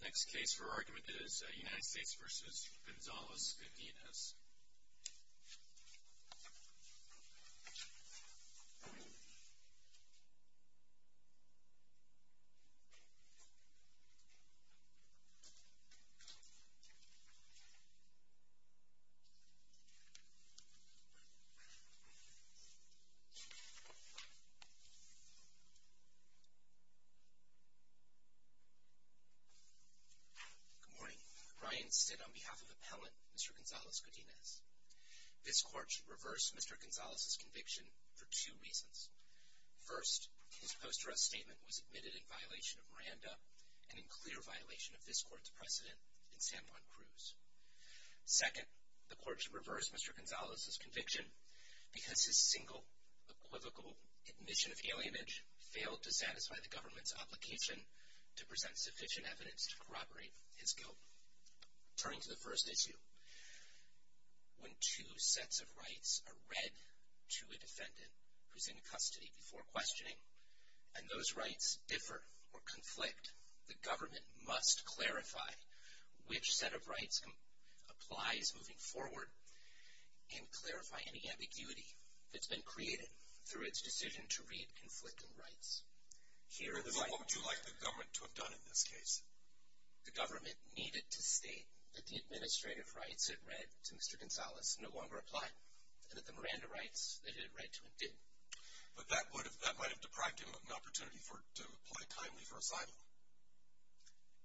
The next case for argument is United States v. Gonzalez-Godinez. Good morning. Ryan stood on behalf of appellant Mr. Gonzalez-Godinez. This court should reverse Mr. Gonzalez's conviction for two reasons. First, his posterous statement was admitted in violation of Miranda and in clear violation of this court's precedent in San Juan Cruz. Second, the court should reverse Mr. Gonzalez's conviction because his single equivocal admission of alienage failed to satisfy the government's obligation to present sufficient evidence to corroborate his guilt. Turning to the first issue, when two sets of rights are read to a defendant who is in custody before questioning and those rights differ or conflict, the government must clarify which set of rights applies moving forward and clarify any ambiguity that's been created through its decision to read conflicting rights. What would you like the government to have done in this case? The government needed to state that the administrative rights it read to Mr. Gonzalez no longer apply and that the Miranda rights that it had read to him did. But that might have deprived him of an opportunity to apply timely for asylum.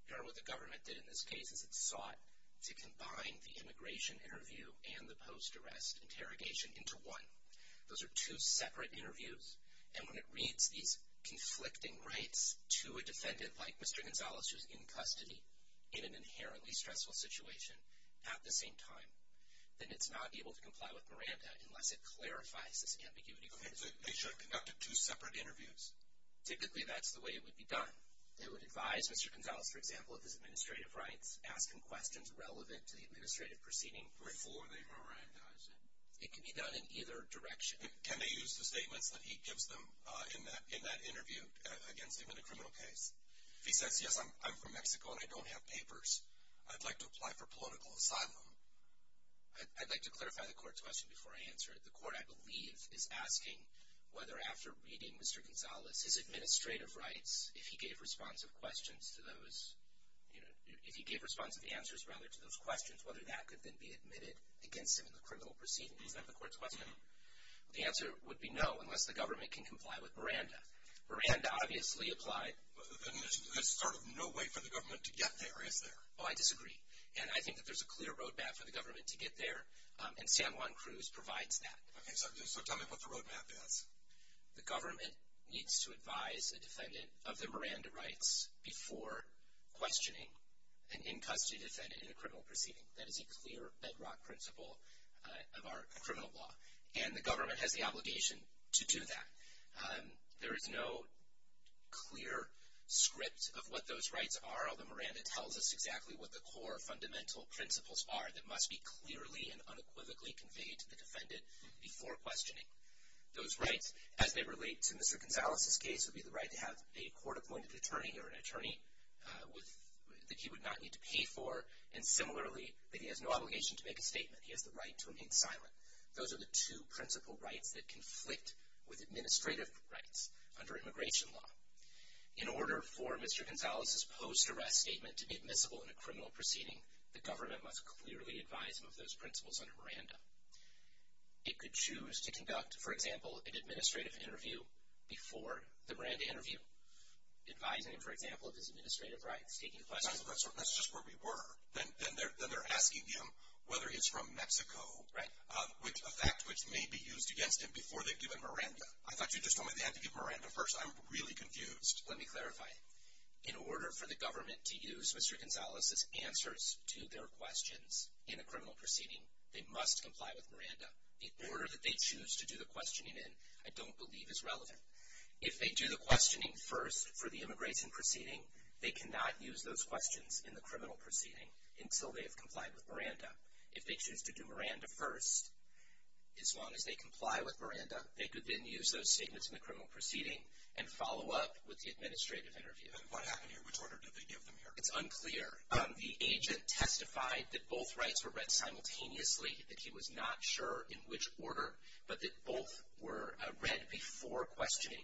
Here what the government did in this case is it sought to combine the immigration interview and the post-arrest interrogation into one. Those are two separate interviews and when it reads these conflicting rights to a defendant like Mr. Gonzalez who is in custody in an inherently stressful situation at the same time, then it's not able to comply with Miranda unless it clarifies this ambiguity. They should have conducted two separate interviews. Typically that's the way it would be done. They would advise Mr. Gonzalez, for example, of his administrative rights, ask him questions relevant to the administrative proceeding before they Mirandized him. It can be done in either direction. Can they use the statements that he gives them in that interview against him in a criminal case? If he says, yes, I'm from Mexico and I don't have papers, I'd like to apply for political asylum. I'd like to clarify the court's question before I answer it. The court, I believe, is asking whether after reading Mr. Gonzalez, his administrative rights, if he gave responsive answers to those questions, whether that could then be admitted against him in the criminal proceeding. Is that the court's question? The answer would be no unless the government can comply with Miranda. Miranda obviously applied. There's sort of no way for the government to get there, is there? Oh, I disagree. And I think that there's a clear road map for the government to get there and San Juan Cruz provides that. Okay, so tell me what the road map is. The government needs to advise a defendant of their Miranda rights before questioning an in-custody defendant in a criminal proceeding. That is a clear bedrock principle of our criminal law. And the government has the obligation to do that. There is no clear script of what those rights are, although Miranda tells us exactly what the core fundamental principles are that must be clearly and unequivocally conveyed to the defendant before questioning. Those rights, as they relate to Mr. Gonzalez's case, would be the right to have a court-appointed attorney or an attorney that he would not need to pay for, and similarly that he has no obligation to make a statement. He has the right to remain silent. Those are the two principal rights that conflict with administrative rights under immigration law. In order for Mr. Gonzalez's post-arrest statement to be admissible in a criminal proceeding, the government must clearly advise him of those principles under Miranda. It could choose to conduct, for example, an administrative interview before the Miranda interview, advising him, for example, of his administrative rights, taking questions. That's just where we were. Then they're asking him whether he's from Mexico, a fact which may be used against him before they've given Miranda. I thought you just told me they had to give Miranda first. I'm really confused. Let me clarify. In order for the government to use Mr. Gonzalez's answers to their questions in a criminal proceeding, they must comply with Miranda. The order that they choose to do the questioning in I don't believe is relevant. If they do the questioning first for the immigration proceeding, they cannot use those questions in the criminal proceeding until they have complied with Miranda. They could then use those statements in the criminal proceeding and follow up with the administrative interview. And what happened here? Which order did they give them here? It's unclear. The agent testified that both rights were read simultaneously, that he was not sure in which order, but that both were read before questioning.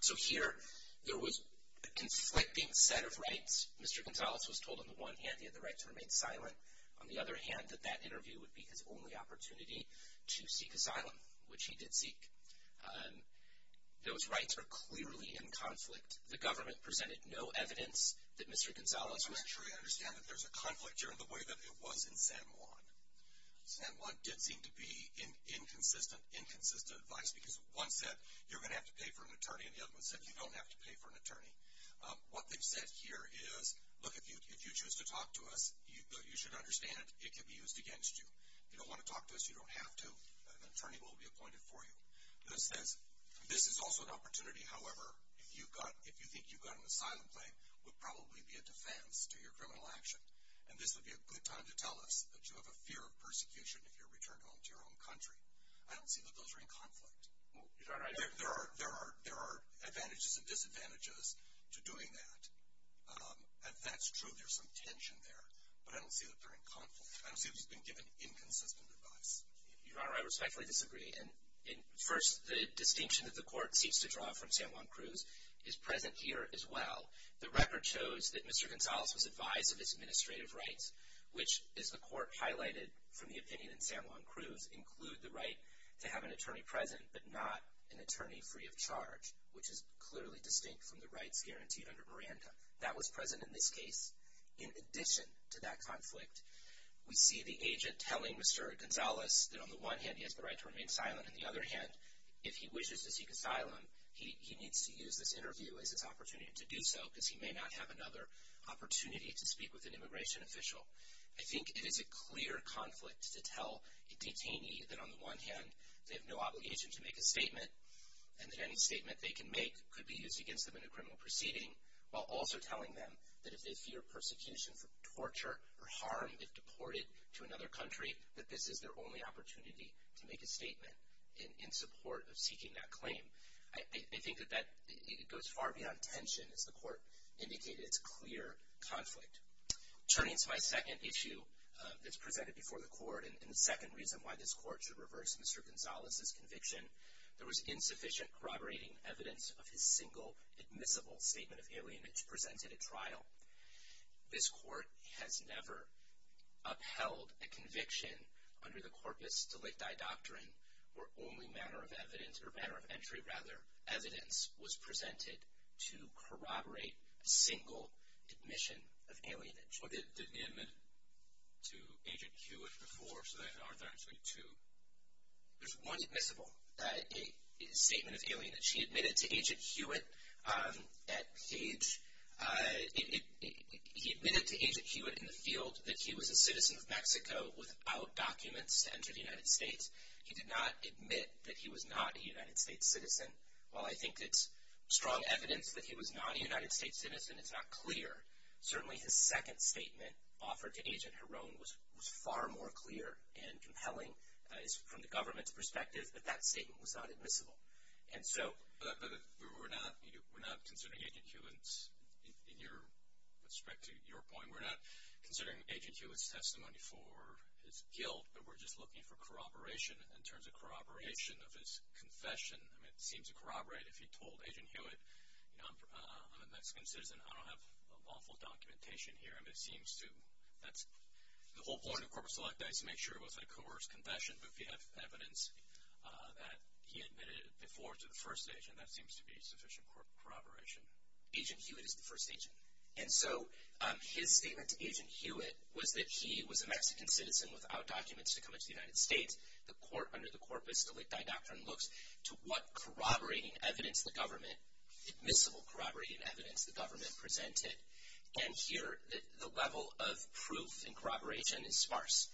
So here there was a conflicting set of rights. Mr. Gonzalez was told on the one hand he had the right to remain silent, on the other hand that that interview would be his only opportunity to seek asylum, which he did seek. Those rights are clearly in conflict. The government presented no evidence that Mr. Gonzalez was. I'm not sure I understand that there's a conflict here in the way that it was in San Juan. San Juan did seem to be inconsistent, inconsistent advice, because one said you're going to have to pay for an attorney, and the other one said you don't have to pay for an attorney. What they've said here is, look, if you choose to talk to us, you should understand it can be used against you. You don't want to talk to us, you don't have to. An attorney will be appointed for you. This is also an opportunity, however, if you think you've got an asylum claim, would probably be a defense to your criminal action. And this would be a good time to tell us that you have a fear of persecution if you're returned home to your own country. I don't see that those are in conflict. There are advantages and disadvantages to doing that, and that's true. There's some tension there, but I don't see that they're in conflict. I don't see that he's been given inconsistent advice. Your Honor, I respectfully disagree. First, the distinction that the court seeks to draw from San Juan Cruz is present here as well. The record shows that Mr. Gonzalez was advised of his administrative rights, which, as the court highlighted from the opinion in San Juan Cruz, include the right to have an attorney present but not an attorney free of charge, which is clearly distinct from the rights guaranteed under Miranda. That was present in this case. In addition to that conflict, we see the agent telling Mr. Gonzalez that, on the one hand, he has the right to remain silent. On the other hand, if he wishes to seek asylum, he needs to use this interview as his opportunity to do so because he may not have another opportunity to speak with an immigration official. I think it is a clear conflict to tell a detainee that, on the one hand, they have no obligation to make a statement and that any statement they can make could be used against them in a criminal proceeding, while also telling them that if they fear persecution for torture or harm if deported to another country, that this is their only opportunity to make a statement in support of seeking that claim. I think that that goes far beyond tension, as the court indicated. It's a clear conflict. Turning to my second issue that's presented before the court and the second reason why this court should reverse Mr. Gonzalez's conviction, there was insufficient corroborating evidence of his single admissible statement of alienage presented at trial. This court has never upheld a conviction under the corpus delicti doctrine where only manner of entry, rather, evidence was presented to corroborate a single admission of alienage. But did he admit to Agent Hewitt before, so there aren't actually two? There's one admissible statement of alienage. He admitted to Agent Hewitt at Cage. He admitted to Agent Hewitt in the field that he was a citizen of Mexico without documents to enter the United States. He did not admit that he was not a United States citizen. While I think it's strong evidence that he was not a United States citizen, it's not clear, certainly his second statement offered to Agent Heron was far more clear and compelling from the government's perspective that that statement was not admissible. But we're not considering Agent Hewitt's, with respect to your point, we're not considering Agent Hewitt's testimony for his guilt, but we're just looking for corroboration in terms of corroboration of his confession. It seems to corroborate if he told Agent Hewitt, you know, I'm a Mexican citizen, I don't have lawful documentation here. It seems to, that's the whole point of corpus delicti is to make sure it was a coerced confession. But if you have evidence that he admitted it before to the first agent, that seems to be sufficient corroboration. Agent Hewitt is the first agent. And so his statement to Agent Hewitt was that he was a Mexican citizen without documents to come into the United States. The court under the corpus delicti doctrine looks to what corroborating evidence the government, admissible corroborating evidence the government presented. And here the level of proof in corroboration is sparse.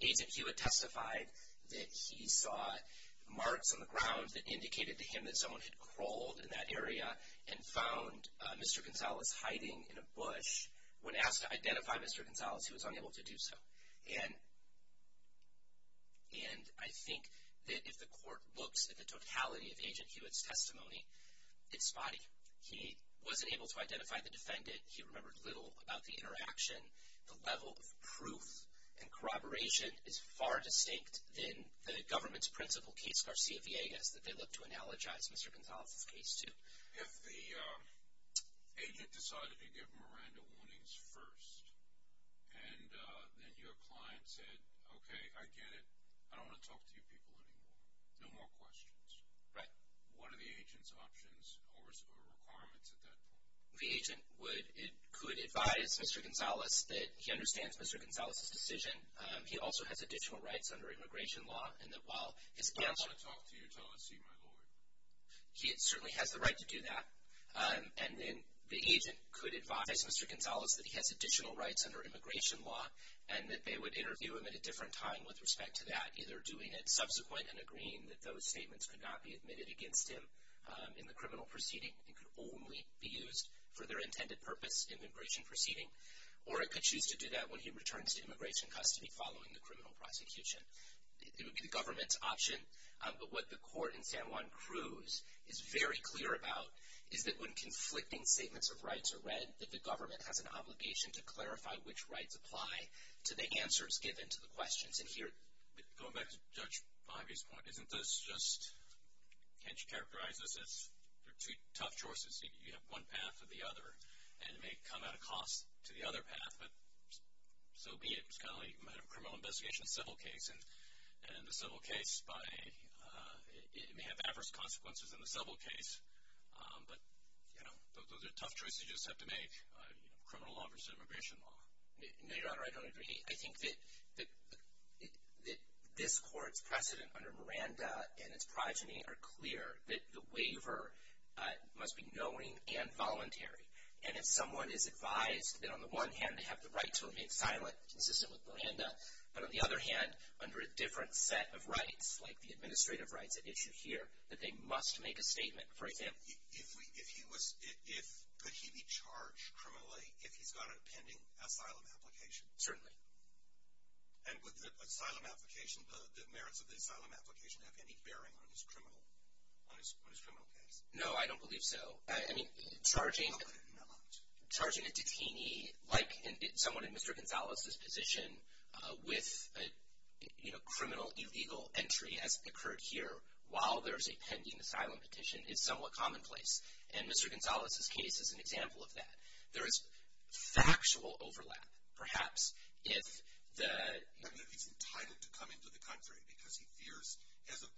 Agent Hewitt testified that he saw marks on the ground that indicated to him that someone had crawled in that area and found Mr. Gonzalez hiding in a bush. When asked to identify Mr. Gonzalez, he was unable to do so. And I think that if the court looks at the totality of Agent Hewitt's testimony, it's spotty. He wasn't able to identify the defendant. He remembered little about the interaction. The level of proof and corroboration is far distinct than the government's principal case, Garcia-Villegas, that they look to analogize Mr. Gonzalez's case to. If the agent decided to give Miranda warnings first and then your client said, okay, I get it. I don't want to talk to you people anymore. No more questions. Right. What are the agent's options or requirements at that point? The agent could advise Mr. Gonzalez that he understands Mr. Gonzalez's decision. He also has additional rights under immigration law. I don't want to talk to you until I see my lawyer. He certainly has the right to do that. And then the agent could advise Mr. Gonzalez that he has additional rights under immigration law and that they would interview him at a different time with respect to that, either doing it subsequent and agreeing that those statements could not be admitted against him in the criminal proceeding and could only be used for their intended purpose in the immigration proceeding, or it could choose to do that when he returns to immigration custody following the criminal prosecution. It would be the government's option. But what the court in San Juan Cruz is very clear about is that when conflicting statements of rights are read, that the government has an obligation to clarify which rights apply to the answers given to the questions. And here, going back to Judge Bahavi's point, isn't this just, can't you characterize this as, there are two tough choices. You have one path or the other, and it may come at a cost to the other path, but so be it. It's kind of like the criminal investigation civil case, and the civil case may have adverse consequences than the civil case, but those are tough choices you just have to make, criminal law versus immigration law. No, Your Honor, I don't agree. I think that this court's precedent under Miranda and its progeny are clear that the waiver must be knowing and voluntary. And if someone is advised that, on the one hand, they have the right to remain silent, consistent with Miranda, but on the other hand, under a different set of rights, like the administrative rights at issue here, that they must make a statement. For example? If he was, could he be charged criminally if he's got a pending asylum application? Certainly. And would the asylum application, the merits of the asylum application, have any bearing on his criminal case? No, I don't believe so. I mean, charging a detainee, like someone in Mr. Gonzales' position, with a criminal illegal entry, as occurred here, while there's a pending asylum petition, is somewhat commonplace. And Mr. Gonzales' case is an example of that. There is factual overlap, perhaps, if the— I mean, if he's entitled to come into the country because he fears, he has a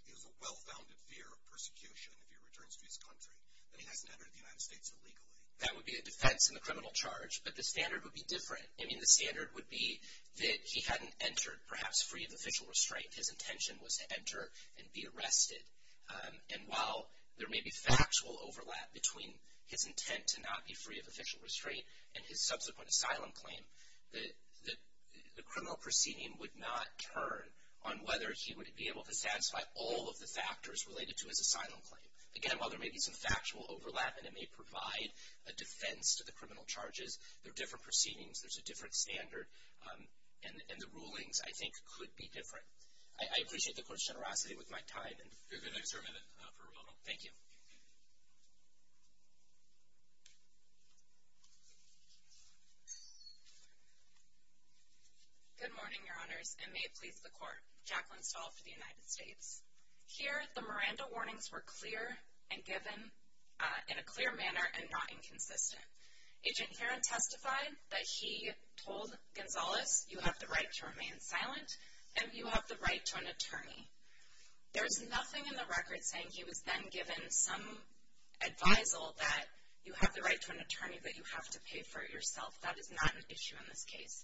well-founded fear of persecution if he returns to his country, that he hasn't entered the United States illegally. That would be a defense in the criminal charge. But the standard would be different. I mean, the standard would be that he hadn't entered, perhaps, free of official restraint. His intention was to enter and be arrested. And while there may be factual overlap between his intent to not be free of official restraint and his subsequent asylum claim, the criminal proceeding would not turn on whether he would be able to satisfy all of the factors related to his asylum claim. Again, while there may be some factual overlap and it may provide a defense to the criminal charges, they're different proceedings. There's a different standard. And the rulings, I think, could be different. I appreciate the Court's generosity with my time. You have an extra minute for a moment. Thank you. Good morning, Your Honors, and may it please the Court. Jacqueline Stahl for the United States. Here, the Miranda warnings were clear and given in a clear manner and not inconsistent. Agent Herron testified that he told Gonzalez, you have the right to remain silent and you have the right to an attorney. There's nothing in the record saying he was then given some advisal that you have the right to an attorney, that you have to pay for it yourself. That is not an issue in this case.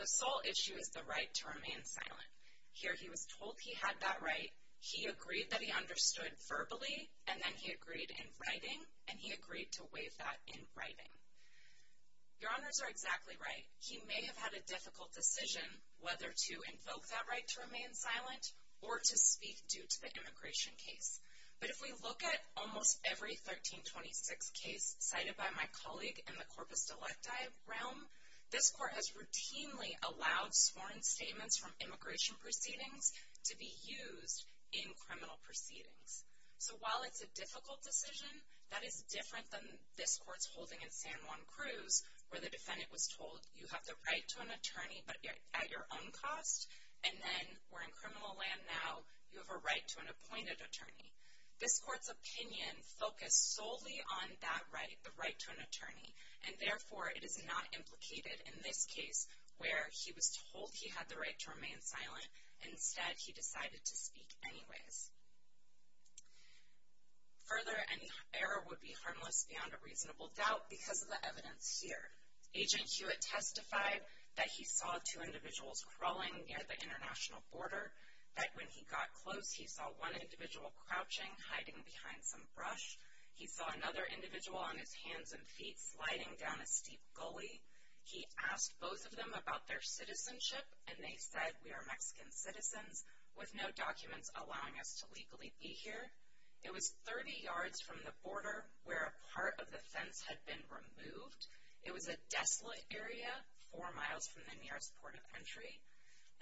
The sole issue is the right to remain silent. Here, he was told he had that right. He agreed that he understood verbally, and then he agreed in writing, and he agreed to waive that in writing. Your Honors are exactly right. He may have had a difficult decision whether to invoke that right to remain silent or to speak due to the immigration case. But if we look at almost every 1326 case cited by my colleague in the corpus delicti realm, this Court has routinely allowed sworn statements from immigration proceedings to be used in criminal proceedings. So while it's a difficult decision, that is different than this Court's holding in San Juan Cruz, where the defendant was told you have the right to an attorney but at your own cost, and then we're in criminal land now, you have a right to an appointed attorney. This Court's opinion focused solely on that right, the right to an attorney, and therefore it is not implicated in this case where he was told he had the right to remain silent. Instead, he decided to speak anyways. Further, any error would be harmless beyond a reasonable doubt because of the evidence here. Agent Hewitt testified that he saw two individuals crawling near the international border, that when he got close he saw one individual crouching, hiding behind some brush. He saw another individual on his hands and feet sliding down a steep gully. He asked both of them about their citizenship, and they said, we are Mexican citizens with no documents allowing us to legally be here. It was 30 yards from the border where a part of the fence had been removed. It was a desolate area four miles from the nearest port of entry,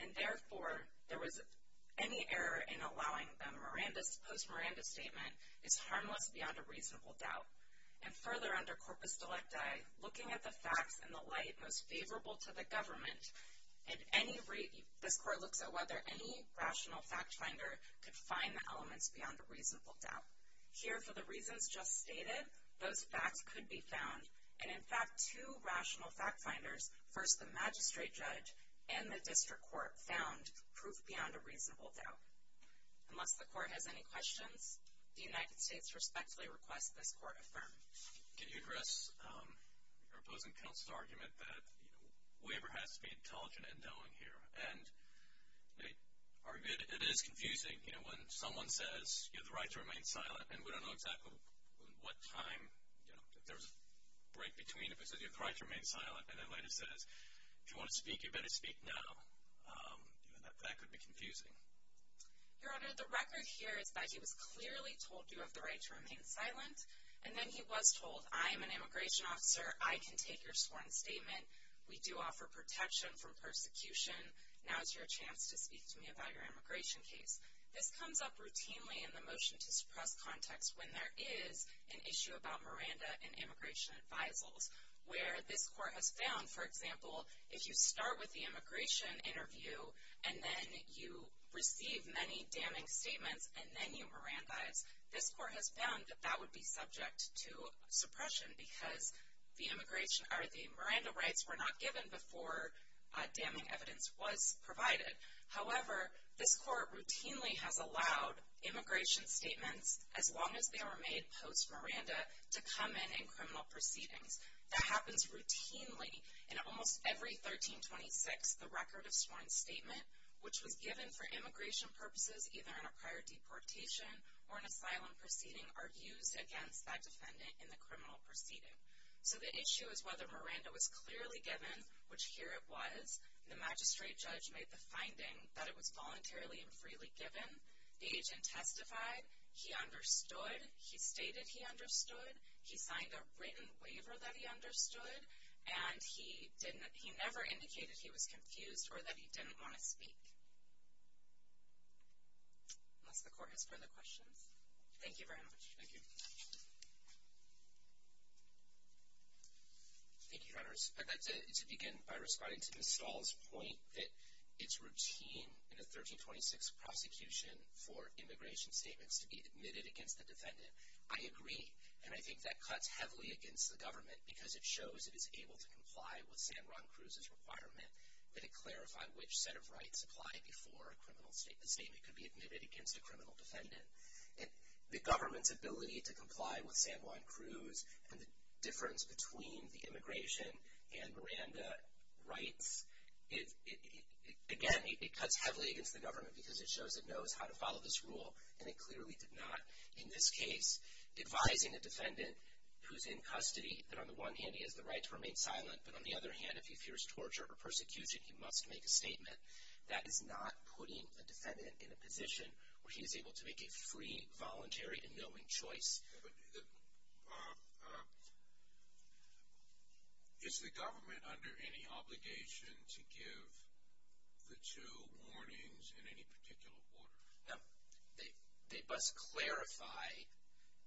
and therefore there was any error in allowing them Miranda's, post-Miranda statement is harmless beyond a reasonable doubt. And further, under corpus delicti, looking at the facts in the light most favorable to the government, this Court looks at whether any rational fact finder could find the elements beyond a reasonable doubt. Here, for the reasons just stated, those facts could be found. And in fact, two rational fact finders, first the magistrate judge and the district court, found proof beyond a reasonable doubt. Unless the Court has any questions, the United States respectfully requests this Court affirm. Can you address your opposing counsel's argument that waiver has to be intelligent and knowing here? And it is confusing, you know, when someone says you have the right to remain silent, and we don't know exactly what time, you know, if there's a break between if it says you have the right to remain silent, and then later says if you want to speak, you better speak now. That could be confusing. Your Honor, the record here is that he was clearly told you have the right to remain silent, and then he was told I am an immigration officer, I can take your sworn statement, we do offer protection from persecution, now is your chance to speak to me about your immigration case. This comes up routinely in the motion to suppress context when there is an issue about Miranda in immigration advisals, where this Court has found, for example, if you start with the immigration interview, and then you receive many damning statements, and then you Miranda-ize, this Court has found that that would be subject to suppression, because the Miranda rights were not given before damning evidence was provided. However, this Court routinely has allowed immigration statements, as long as they were made post-Miranda, to come in in criminal proceedings. That happens routinely. In almost every 1326, the record of sworn statement, which was given for immigration purposes, either in a prior deportation or an asylum proceeding, are used against that defendant in the criminal proceeding. So the issue is whether Miranda was clearly given, which here it was, the magistrate judge made the finding that it was voluntarily and freely given, the agent testified, he understood, he stated he understood, he signed a written waiver that he understood, and he never indicated he was confused or that he didn't want to speak. Unless the Court has further questions. Thank you very much. Thank you. Thank you, Your Honors. I'd like to begin by responding to Ms. Stahl's point that it's routine in a 1326 prosecution for immigration statements to be admitted against the defendant. I agree, and I think that cuts heavily against the government because it shows it is able to comply with San Juan Cruz's requirement that it clarify which set of rights apply before a criminal statement could be admitted against a criminal defendant. The government's ability to comply with San Juan Cruz and the difference between the immigration and Miranda rights, again, it cuts heavily against the government because it shows it knows how to follow this rule, and it clearly did not. In this case, advising a defendant who's in custody, that on the one hand, he has the right to remain silent, but on the other hand, if he fears torture or persecution, he must make a statement, that is not putting a defendant in a position where he is able to make a free, voluntary, and knowing choice. Is the government under any obligation to give the two warnings in any particular order? No. They must clarify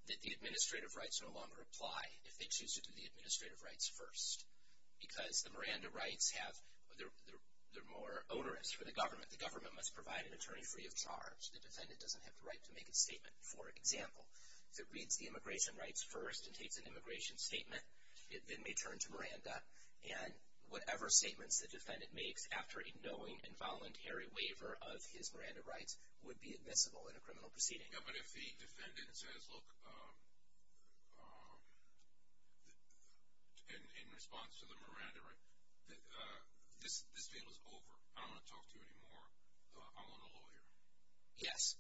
that the administrative rights no longer apply if they choose to do the administrative rights first because the Miranda rights, they're more onerous for the government. The government must provide an attorney free of charge. The defendant doesn't have the right to make a statement. For example, if it reads the immigration rights first and takes an immigration statement, it then may turn to Miranda, and whatever statements the defendant makes after a knowing and voluntary waiver of his Miranda rights would be admissible in a criminal proceeding. Yeah, but if the defendant says, look, in response to the Miranda rights, this deal is over. I don't want to talk to you anymore. I want a lawyer. Yes.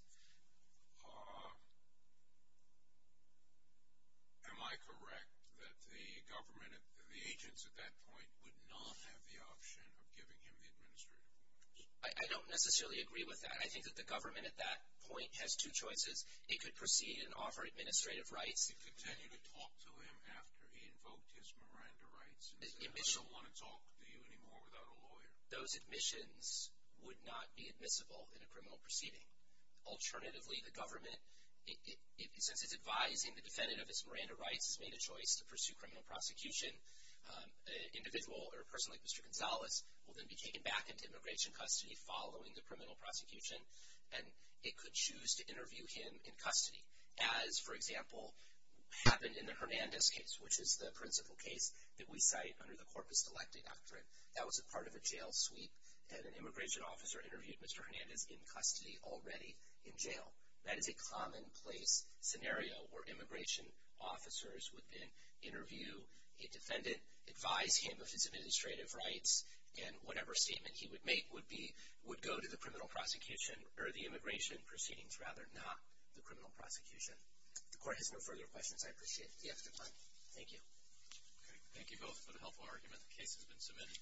Am I correct that the government, the agents at that point, would not have the option of giving him the administrative rights? I don't necessarily agree with that. I think that the government at that point has two choices. It could proceed and offer administrative rights. It could continue to talk to him after he invoked his Miranda rights and say, I don't want to talk to you anymore without a lawyer. Those admissions would not be admissible in a criminal proceeding. Alternatively, the government, since it's advising the defendant of his Miranda rights, has made a choice to pursue criminal prosecution, an individual or a person like Mr. Gonzalez will then be taken back into immigration custody following the criminal prosecution, and it could choose to interview him in custody, as, for example, happened in the Hernandez case, which is the principal case that we cite under the corpus electe doctrine. That was a part of a jail sweep, and an immigration officer interviewed Mr. Hernandez in custody already in jail. That is a commonplace scenario where immigration officers would then interview a defendant, advise him of his administrative rights, and whatever statement he would make would go to the criminal prosecution or the immigration proceedings rather, not the criminal prosecution. If the court has no further questions, I appreciate the after time. Thank you. Thank you both for the helpful argument. The case has been submitted.